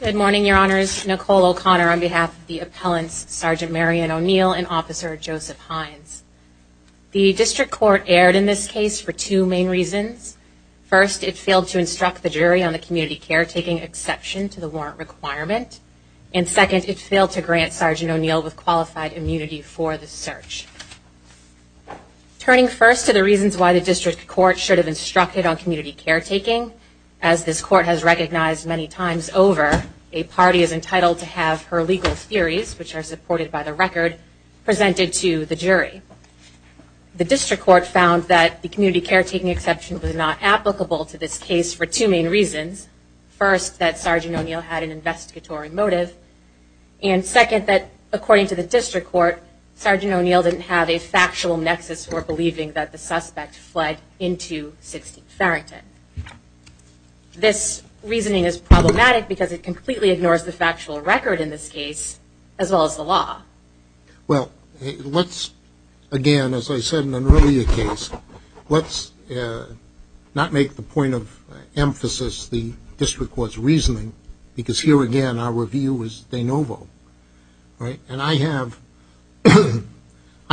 Good morning, Your Honors. Nicole O'Connor on behalf of the Appellants, Sergeant Marion O'Neill and Officer Joseph Hynes. The District Court erred in this case for two main reasons. First, it failed to instruct the jury on the community caretaking exception to the warrant requirement. And second, it failed to grant Sergeant O'Neill with qualified immunity for the search. Turning first to the reasons why the District Court should have instructed on community caretaking, as this Court has recognized many times over, a party is entitled to have her legal theories, which are supported by the record, presented to the jury. The case for two main reasons. First, that Sergeant O'Neill had an investigatory motive. And second, that according to the District Court, Sergeant O'Neill didn't have a factual nexus for believing that the suspect fled into 16th Farrington. This reasoning is problematic because it completely ignores the factual record in this case, as well as the law. Well, let's, again, as I said in an earlier case, let's not make the point of emphasis the District Court's reasoning, because here again, our review is de novo, right? And I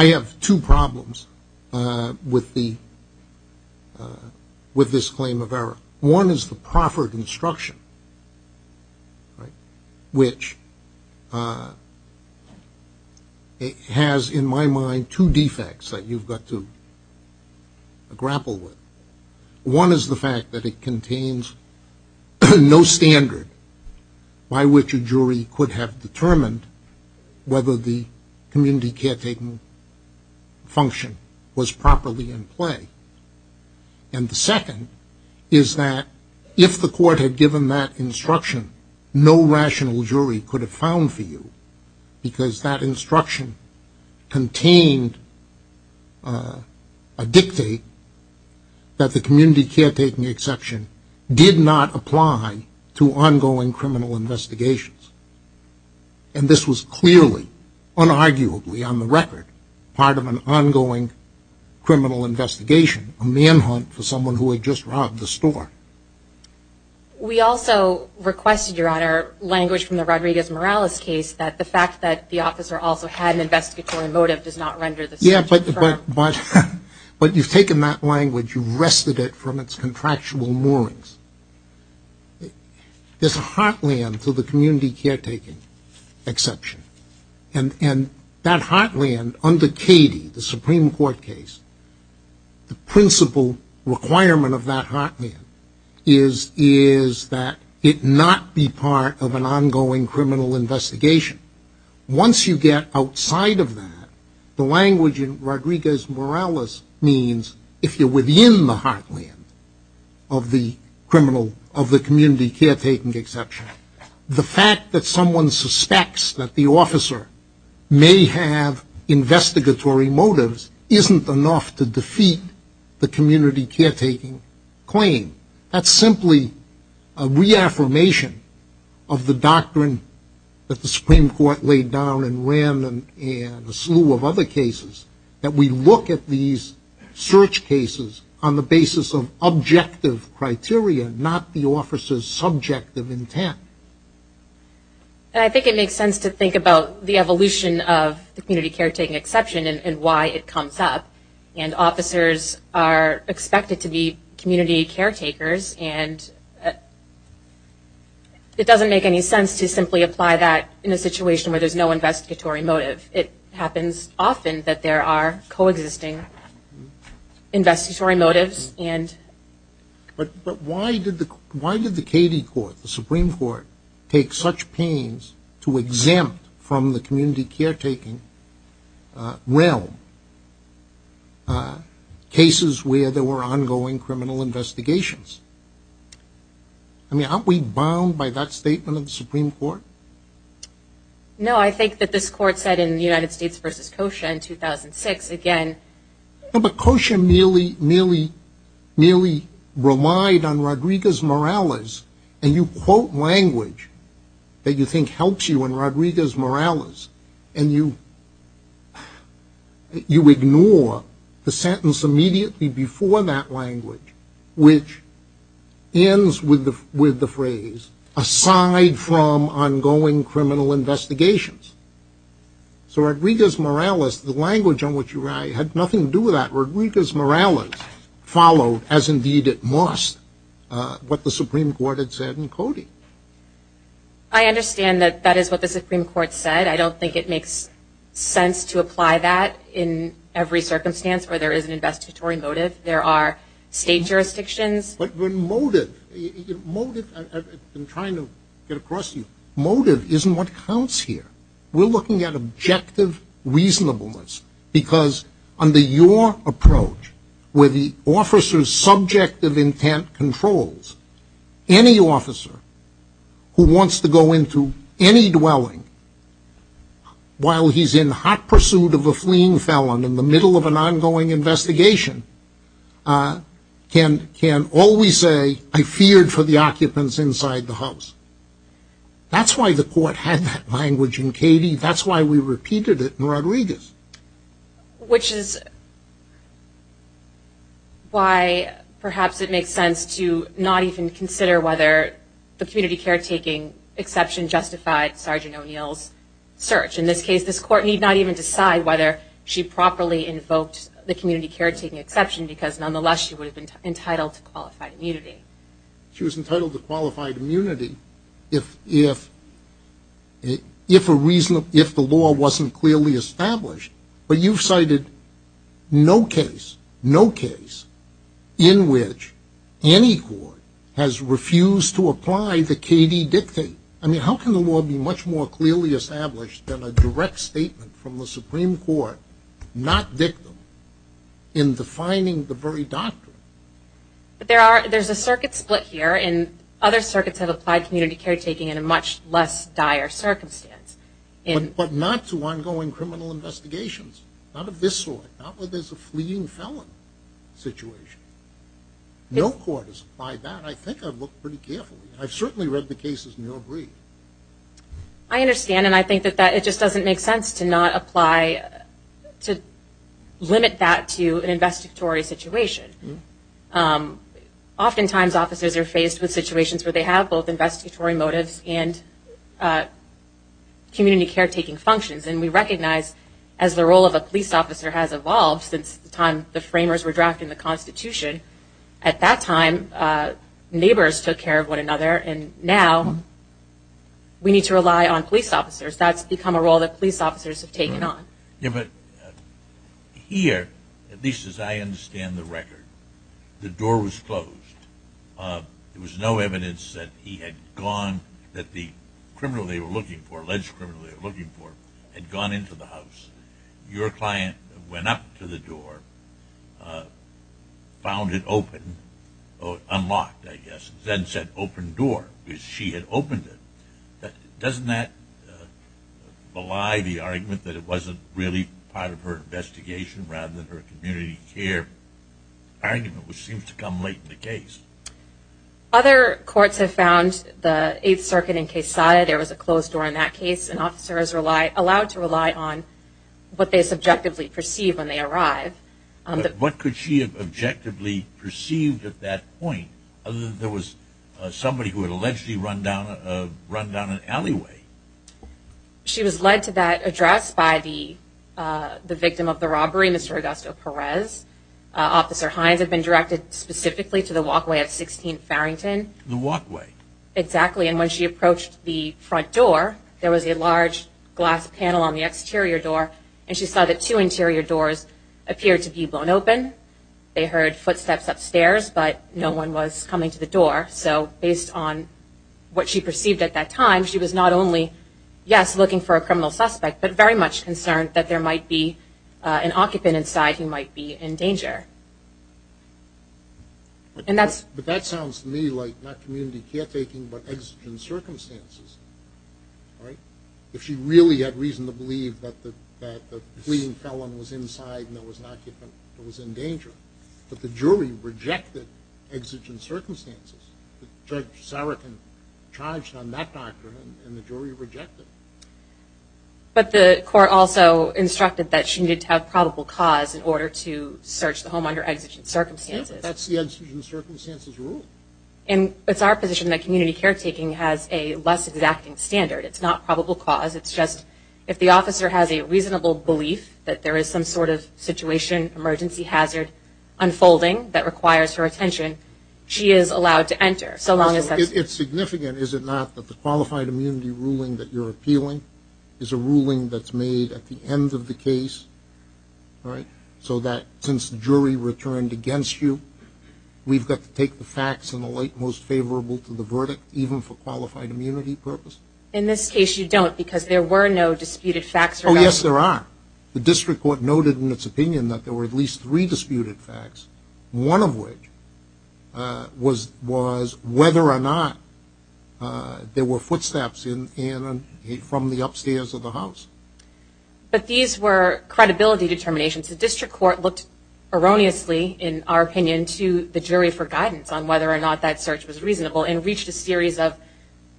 have two problems with this claim of error. One is the proffered instruction, which has, in my mind, two defects that you've got to grapple with. One is the fact that it contains no standard by which a jury could have determined whether the community caretaking function was properly in play. And the second is that if the Court had given that instruction, no rational jury could have found for you, because that instruction contained a dictate that the to ongoing criminal investigations. And this was clearly, unarguably on the record, part of an ongoing criminal investigation, a manhunt for someone who had just robbed the store. We also requested, Your Honor, language from the Rodriguez-Morales case that the fact that the officer also had an investigatory motive does not render the search confirmed. Yeah, but you've taken that language, you've wrested it from its contractual moorings. There's a heartland to the community caretaking exception. And that heartland, under Cady, the Supreme Court case, the principal requirement of that heartland is that it not be part of an ongoing criminal investigation. Once you get outside of that, the language in Rodriguez-Morales means, if you're within the heartland of the community caretaking exception, the fact that someone suspects that the officer may have investigatory motives isn't enough to defeat the community caretaking claim. That's simply a reaffirmation of the doctrine that the Supreme Court laid down and ran and a slew of other cases, that we look at these search cases on the basis of objective criteria, not the officer's subjective intent. And I think it makes sense to think about the evolution of the community caretaking exception and why it and it doesn't make any sense to simply apply that in a situation where there's no investigatory motive. It happens often that there are coexisting investigatory motives and... But why did the Cady Court, the Supreme Court, take such pains to exempt from the community caretaking realm cases where there were ongoing criminal investigations? I mean, aren't we bound by that statement of the Supreme Court? No, I think that this Court said in the United States v. Kosha in 2006, again... But Kosha merely relied on Rodriguez-Morales, and you quote language that you think helps you in you ignore the sentence immediately before that language, which ends with the phrase, aside from ongoing criminal investigations. So Rodriguez-Morales, the language on which you write, had nothing to do with that. Rodriguez-Morales followed, as indeed it must, what the Supreme Court had said in Cody. I understand that that is what the Supreme Court said. I don't think it makes sense to apply that in every circumstance where there is an investigatory motive. There are state jurisdictions... But when motive... motive... I've been trying to get across to you. Motive isn't what counts here. We're looking at objective reasonableness, because under your who wants to go into any dwelling while he's in hot pursuit of a fleeing felon in the middle of an ongoing investigation, can always say, I feared for the occupants inside the house. That's why the Court had that language in Cody. That's why we repeated it in Rodriguez. Which is why perhaps it makes sense to not even consider whether the community caretaking exception justified Sergeant O'Neill's search. In this case, this Court need not even decide whether she properly invoked the community caretaking exception, because nonetheless, she would have been entitled to qualified immunity. She was entitled to qualified immunity if, if, if a reason, if the law wasn't clearly established, but you've cited no case, no case in which any court has refused to apply the KD dictate. I mean, how can the law be much more clearly established than a direct statement from the in other circuits have applied community caretaking in a much less dire circumstance. But not to ongoing criminal investigations. Not of this sort. Not where there's a fleeing felon situation. No court has applied that. I think I've looked pretty carefully. I've certainly read the cases in your brief. I understand. And I think that that, it just doesn't make to not apply, to limit that to an investigatory situation. Oftentimes, officers are faced with situations where they have both investigatory motives and community caretaking functions. And we recognize as the role of a police officer has evolved since the time the framers were drafted in the Constitution. At that time, neighbors took care of one another. And now, we need to rely on police officers. That's become a role that police officers have taken on. Yeah, but here, at least as I understand the record, the door was closed. There was no evidence that he had gone, that the criminal they were looking for, alleged criminal they were looking for, had gone into the house. Your client went up to the door, found it open, or unlocked, then said, open door, because she had opened it. Doesn't that belie the argument that it wasn't really part of her investigation, rather than her community care argument, which seems to come late in the case? Other courts have found the Eighth Circuit in Quesada, there was a closed door in that case. And officers are allowed to rely on what they subjectively perceive when they are investigating. She was led to that address by the victim of the robbery, Mr. Augusto Perez. Officer Hines had been directed specifically to the walkway at 16th Farrington. The walkway? Exactly. And when she approached the front door, there was a large glass panel on the exterior door. And she saw that two interior doors appeared to be blown open. They heard footsteps upstairs, but no one was coming to the door. So based on what she perceived at that time, she was not only, yes, looking for a criminal suspect, but very much concerned that there might be an occupant inside who might be in danger. But that sounds to me like not community caretaking, but exigent circumstances. If she really had reason to believe that the fleeing felon was inside and there was an occupant who was in danger, but the jury rejected exigent circumstances. Judge Sarikin charged on that doctrine and the jury rejected it. But the court also instructed that she needed to have probable cause in order to search the home under exigent circumstances. That's the exigent circumstances rule. And it's our position that community caretaking has a less exacting standard. It's not probable cause. It's just if the officer has a reasonable belief that there is some sort of situation emergency hazard unfolding that requires her attention, she is allowed to enter. So long as that's... It's significant, is it not, that the qualified immunity ruling that you're appealing is a ruling that's made at the end of the case, right? So that since jury returned against you, we've got to take the facts in the light most favorable to the verdict, even for qualified immunity purpose. In this case, you don't because there were no disputed facts. Oh, yes, there are. The district court noted in its opinion that there were at least three disputed facts, one of which was whether or not there were footsteps from the upstairs of the house. But these were credibility determinations. The district court looked erroneously, in our opinion, to the jury for guidance on whether or not that search was reasonable and reached a series of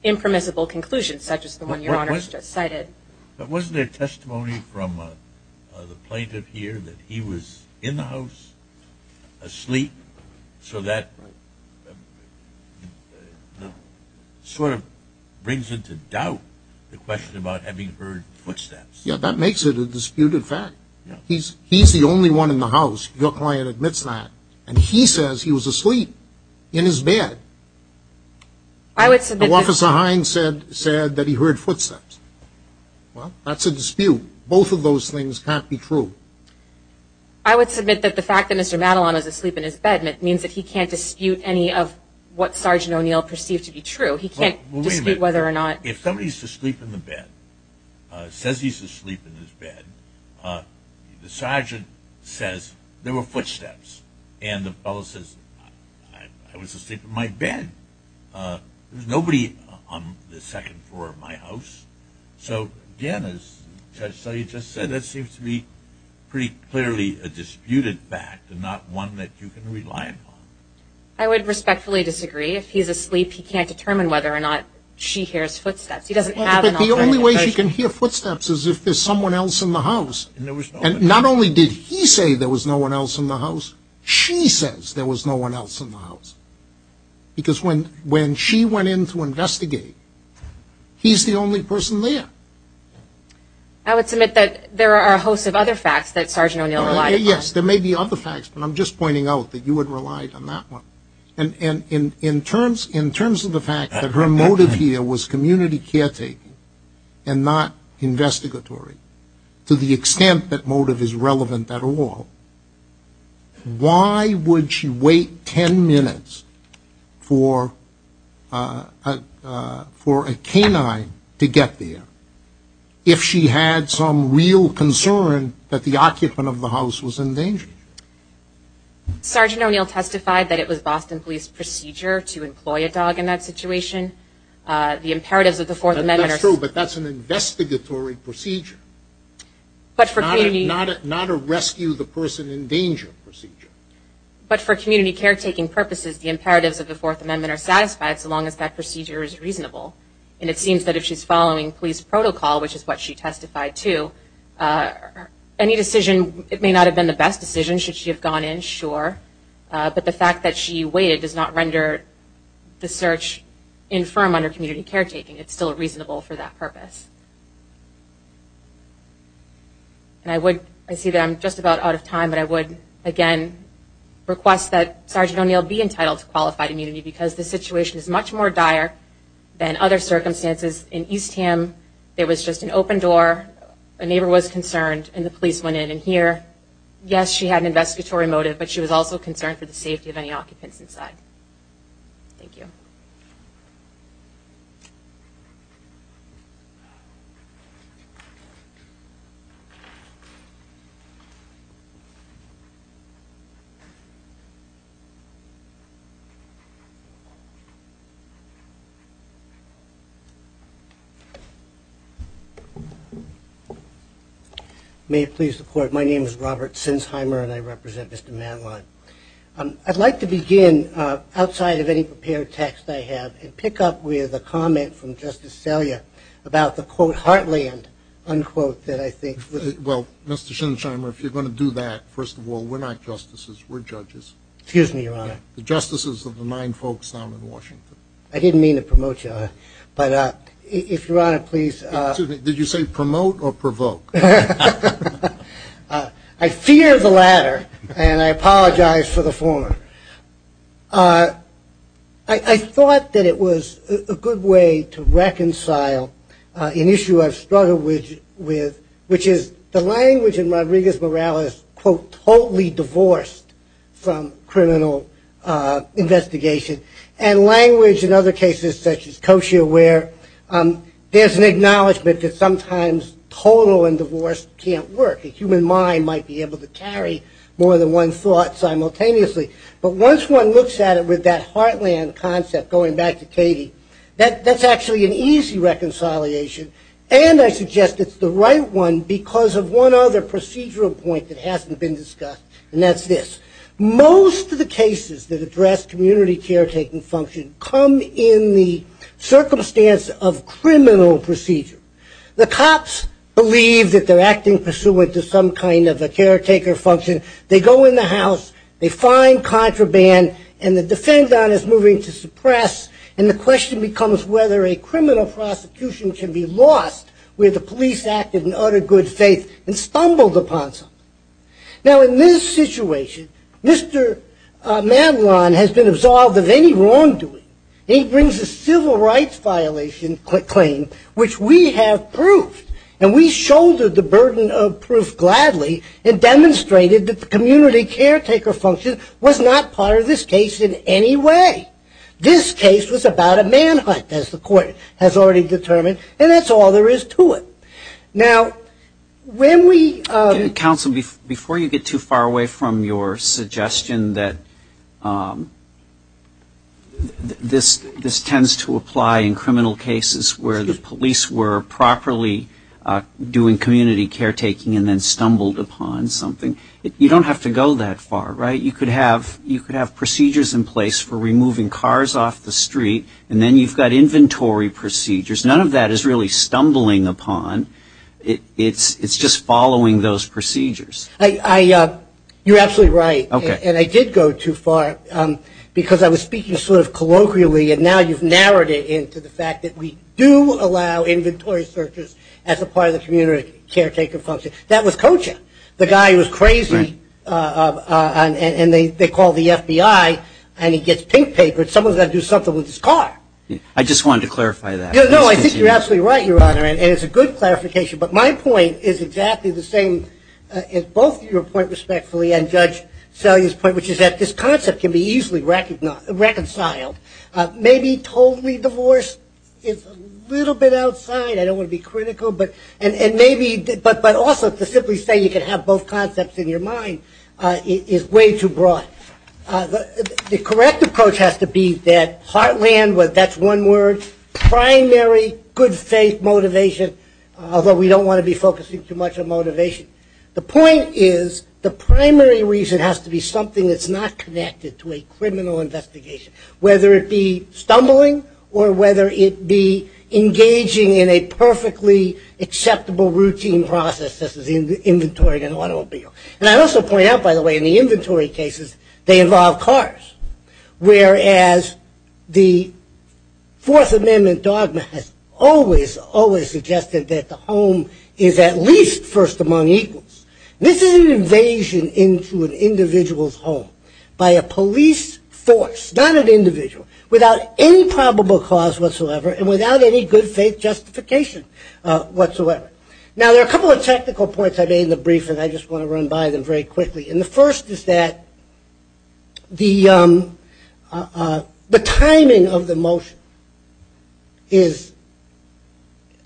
impermissible conclusions, such as the one your honor has just cited. But wasn't there testimony from the plaintiff here that he was in the house asleep? So that sort of brings into doubt the question about having heard footsteps. Yeah, that makes it a disputed fact. He's the only one in the house, your client admits that, and he says he was asleep in his bed. I would submit... said that he heard footsteps. Well, that's a dispute. Both of those things can't be true. I would submit that the fact that Mr. Madelon is asleep in his bed means that he can't dispute any of what Sergeant O'Neill perceived to be true. He can't dispute whether or not... If somebody's asleep in the bed, says he's asleep in his bed, the sergeant says there were footsteps, and the fellow says, I was asleep in my bed. There was nobody on the second floor of my house. So again, as Judge Sully just said, that seems to be pretty clearly a disputed fact and not one that you can rely upon. I would respectfully disagree. If he's asleep, he can't determine whether or not she hears footsteps. He doesn't have an alternative. But the only way she can hear footsteps is if there's someone else in the house. And there was no one else. He said there was no one else in the house. She says there was no one else in the house. Because when she went in to investigate, he's the only person there. I would submit that there are a host of other facts that Sergeant O'Neill relied upon. Yes, there may be other facts, but I'm just pointing out that you would rely on that one. And in terms of the fact that her motive here was community caretaking and not investigatory, to the extent that motive is relevant at all, why would she wait 10 minutes for a canine to get there if she had some real concern that the occupant of the house was in danger? Sergeant O'Neill testified that it was Boston police procedure to employ a dog in that situation. The imperatives of the Fourth Amendment are... That's true, but that's an investigatory procedure. But for community... Not a rescue the person in danger procedure. But for community caretaking purposes, the imperatives of the Fourth Amendment are satisfied so long as that procedure is reasonable. And it seems that if she's following police protocol, which is what she testified to, any decision, it may not have been the best decision should she have gone in, sure. But the fact that she waited does not render the search infirm under community caretaking. It's still reasonable for that purpose. And I would... I see that I'm just about out of time, but I would, again, request that Sergeant O'Neill be entitled to qualified immunity because the situation is much more dire than other circumstances in East Ham. There was just an open door, a neighbor was concerned, and the police went in. And here, yes, she had an investigatory motive, but she was also concerned for the safety of any occupants inside. Thank you. Thank you. May it please the court. My name is Robert Sinsheimer and I represent Mr. Manlon. I'd like to begin outside of any prepared text I have and pick up with a comment from Justice Well, Mr. Sinsheimer, if you're going to do that, first of all, we're not justices. We're judges. Excuse me, Your Honor. The justices of the nine folks down in Washington. I didn't mean to promote you, but if Your Honor, please. Did you say promote or provoke? I fear the latter and I apologize for the former. I thought that it was a good way to reconcile an issue I've struggled with which is the language in Rodriguez-Morales, quote, totally divorced from criminal investigation and language in other cases such as Kosher where there's an acknowledgement that sometimes total and divorced can't work. A human mind might be able to carry more than one thought simultaneously. But once one looks at it with that heartland concept, going back to Katie, that's actually an easy reconciliation and I suggest it's the right one because of one other procedural point that hasn't been discussed and that's this. Most of the cases that address community caretaking function come in the circumstance of criminal procedure. The cops believe that they're acting pursuant to some kind of a caretaker function. They go in the house. They find contraband and the defendant is moving to suppress. And the question becomes whether a criminal prosecution can be lost where the police acted in utter good faith and stumbled upon something. Now, in this situation, Mr. Madelon has been absolved of any wrongdoing. He brings a civil rights violation claim which we have proved and we shouldered the burden of proof gladly and demonstrated that the community caretaker function was not part of this case in any way. This case was about a manhunt as the court has already determined and that's all there is to it. Now, when we- Counsel, before you get too far away from your suggestion that this tends to apply in criminal cases where the police were properly doing community caretaking and then stumbled upon something, you don't have to go that far, right? You could have procedures in place for removing cars off the street and then you've got inventory procedures. None of that is really stumbling upon. It's just following those procedures. You're absolutely right. And I did go too far because I was speaking sort of colloquially and now you've narrowed it into the fact that we do allow inventory searches as a part of the community caretaker function. That was Kocha, the guy who was crazy and they call the FBI and he gets pink papered. Someone's got to do something with his car. I just wanted to clarify that. No, I think you're absolutely right, Your Honor, and it's a good clarification. But my point is exactly the same as both your point respectfully and Judge Salyer's point, which is that this concept can be easily reconciled. Maybe totally divorce is a little bit outside. I don't want to be critical, but also to simply say you can have both concepts in your mind is way too broad. The correct approach has to be that heartland, that's one word, primary good faith motivation, although we don't want to be focusing too much on motivation. The point is the primary reason has to be something that's not connected to a criminal investigation, whether it be stumbling or whether it be engaging in a perfectly acceptable routine process such as inventorying an automobile. And I also point out, by the way, in the inventory cases, they involve cars, whereas the Fourth Amendment dogma has always, always suggested that the home is at least first among equals. This is an invasion into an individual's home by a police force, not an individual, without any probable cause whatsoever and without any good faith justification whatsoever. Now, there are a couple of technical points I made in the brief, and I just want to run by them very quickly. And the first is that the timing of the motion is,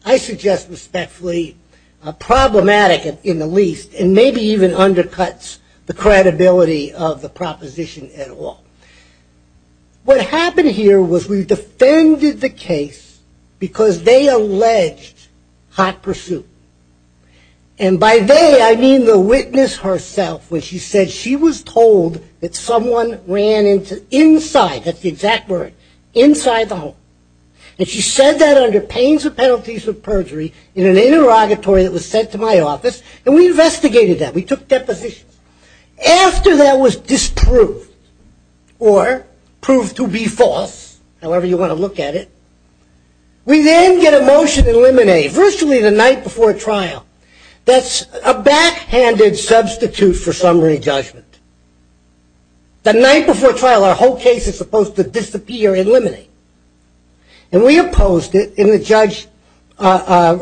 I suggest respectfully, problematic in the least, and maybe even undercuts the credibility of the proposition at all. What happened here was we defended the case because they alleged hot pursuit. And by they, I mean the witness herself when she said she was told that someone ran inside, that's the exact word, inside the home. And she said that under pains and penalties of perjury in an interrogatory that was sent to my office. And we investigated that. We took depositions. After that was disproved or proved to be false, however you want to look at it, we then get a motion eliminated, virtually the night before trial. That's a backhanded substitute for summary judgment. And we opposed it. And the judge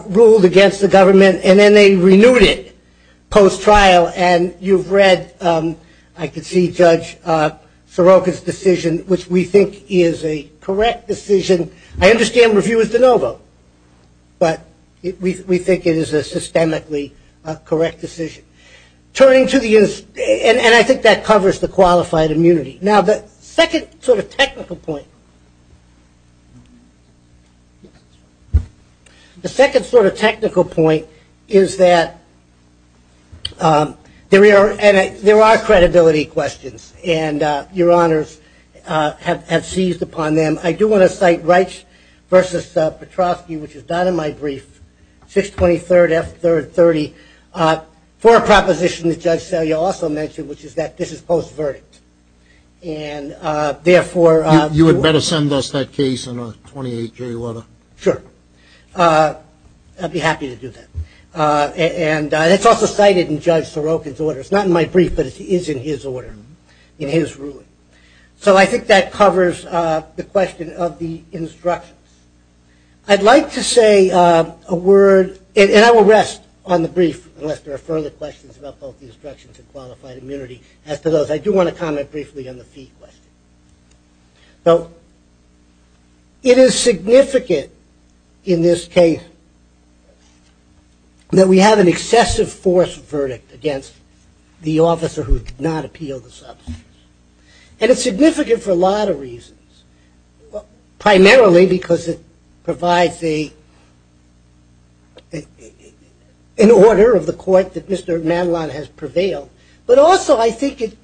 ruled against the government, and then they renewed it post-trial. And you've read, I could see Judge Soroka's decision, which we think is a correct decision. I understand review is de novo, but we think it is a systemically correct decision. And I think that covers the qualified immunity. Now, the second sort of technical point, the second sort of technical point is that there are credibility questions. And your honors have seized upon them. I do want to cite Reich versus Petrovsky, which is not in my brief, 623rd, F3rd, 30, for a proposition that Judge Selya also mentioned, which is that this is post-verdict. And therefore... You would better send us that case in a 28-day order. Sure. I'd be happy to do that. And it's also cited in Judge Soroka's order. It's not in my brief, but it is in his order, in his ruling. So I think that covers the question of the instructions. I'd like to say a word, and I will rest on the brief, unless there are further questions about both the instructions and qualified immunity. As to those, I do want to comment briefly on the fee question. Now, it is significant in this case that we have an excessive force verdict against the officer who did not appeal the substance. And it's significant for a lot of reasons, primarily because it provides an order of the court that Mr. Madelon has prevailed. But also, I think it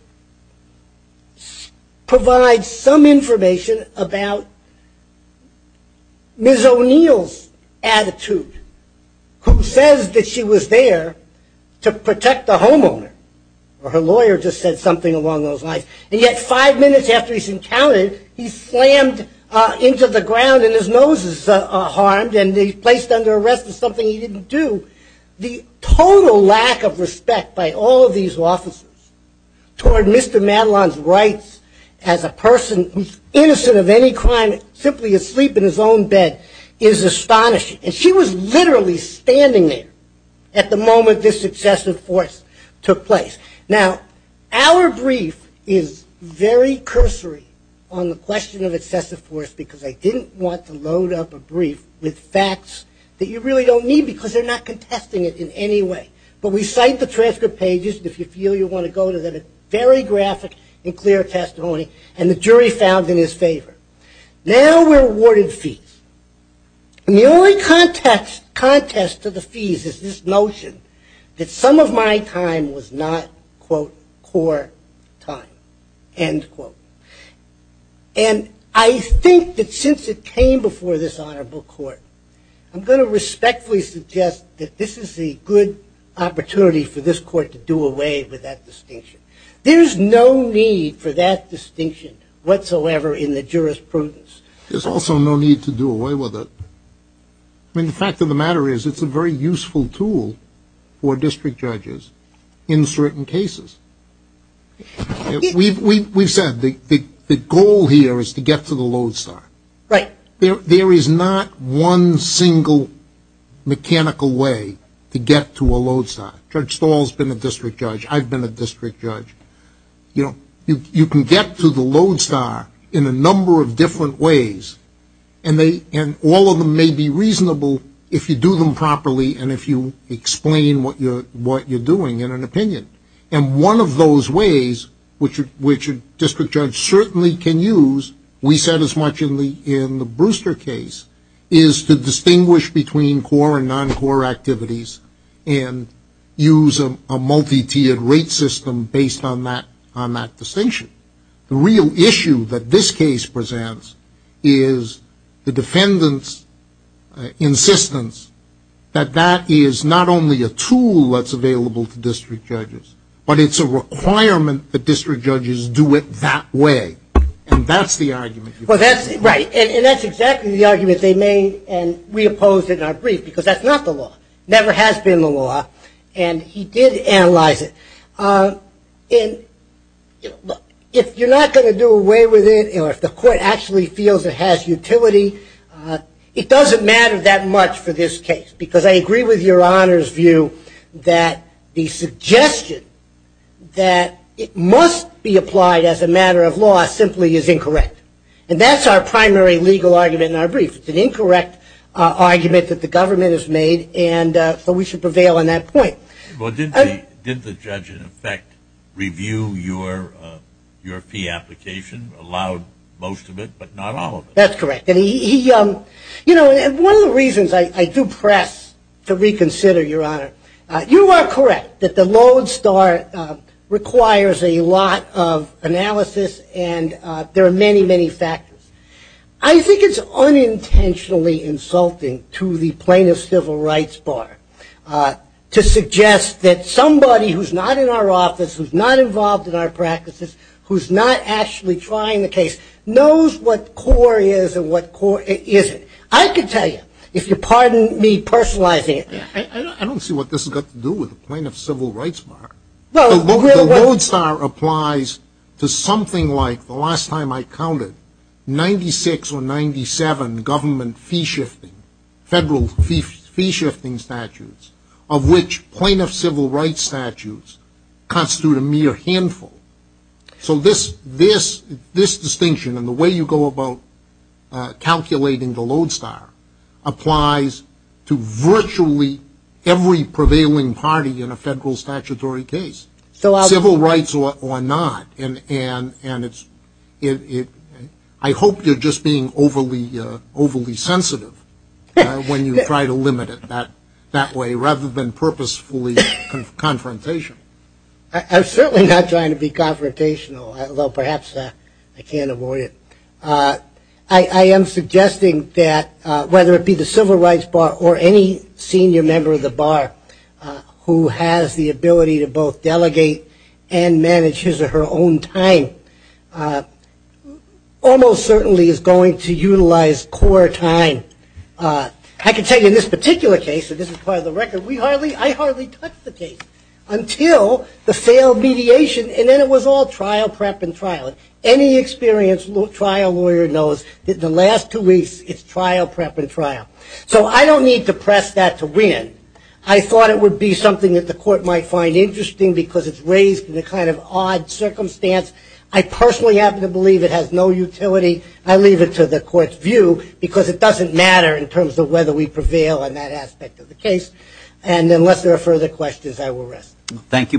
provides some information about Ms. O'Neill's attitude, who says that she was there to protect the homeowner. Her lawyer just said something along those lines. And yet, five minutes after he's encountered, he's slammed into the ground, and his nose is harmed, and he's placed under arrest for something he didn't do. The total lack of respect by all of these officers toward Mr. Madelon's rights as a person who's innocent of any crime, simply asleep in his own bed, is astonishing. And she was literally standing there at the moment this excessive force took place. Now, our brief is very cursory on the question of excessive force, because I didn't want to test it in any way. But we cite the transcript pages, if you feel you want to go to them. It's very graphic and clear testimony, and the jury found in his favor. Now, we're awarded fees. And the only contest to the fees is this notion that some of my time was not, quote, core time, end quote. And I think that since it came before this honorable court, I'm going to respectfully suggest that this is a good opportunity for this court to do away with that distinction. There's no need for that distinction whatsoever in the jurisprudence. There's also no need to do away with it. I mean, the fact of the matter is, it's a very useful tool for district judges in certain cases. We've said the goal here is to get to the lodestar. Right. There is not one single mechanical way to get to a lodestar. Judge Stahl's been a district judge. I've been a district judge. You can get to the lodestar in a number of different ways, and all of them may be reasonable if you do them properly and if you explain what you're doing in an opinion. And one of those ways, which a district judge certainly can use, we said as much in the Brewster case, is to distinguish between core and non-core activities and use a multi-tiered rate system based on that distinction. The real issue that this case presents is the defendant's insistence that that is not only a tool that's available to district judges, but it's a requirement that district judges do it that way. And that's the argument. Well, that's right. And that's exactly the argument they made, and we opposed it in our brief, because that's not the law. Never has been the law. And he did analyze it. And if you're not going to do away with it, or if the court actually feels it has utility, it doesn't matter that much for this case. Because I agree with Your Honor's view that the suggestion that it must be applied as a matter of law simply is incorrect. And that's our primary legal argument in our brief. It's an incorrect argument that the government has made, and so we should prevail on that point. Well, did the judge, in effect, review your fee application, allowed most of it, but not all of it? That's correct. And he, you know, one of the reasons I do press to reconsider, Your Honor, you are correct that the Lone Star requires a lot of analysis, and there are many, many factors. I think it's unintentionally insulting to the plaintiff's civil rights bar to suggest that somebody who's not in our office, who's not involved in our practices, who's not actually trying the case, knows what core is and what core isn't. I can tell you, if you pardon me personalizing it. I don't see what this has got to do with the plaintiff's civil rights bar. The Lone Star applies to something like, the last time I counted, 96 or 97 government fee-shifting, federal fee-shifting statutes, of which plaintiff's civil rights statutes constitute a mere handful. So this distinction, and the way you go about calculating the Lone Star, applies to virtually every prevailing party in a federal statutory case, civil rights or not. I hope you're just being overly sensitive when you try to limit it that way, rather than purposefully confrontational. I'm certainly not trying to be confrontational, although perhaps I can't avoid it. I am suggesting that, whether it be the civil rights bar or any senior member of the bar who has the ability to both delegate and manage his or her own time, almost certainly is going to utilize core time. I can tell you, in this particular case, and this is part of the record, I hardly touched the case until the failed mediation. And then it was all trial, prep, and trial. Any experienced trial lawyer knows that the last two weeks, it's trial, prep, and trial. So I don't need to press that to win. I thought it would be something that the court might find interesting because it's raised in a kind of odd circumstance. I personally happen to believe it has no utility. I leave it to the court's view because it doesn't matter in terms of whether we prevail on that aspect of the case. And unless there are further questions, I will rest. Thank you both.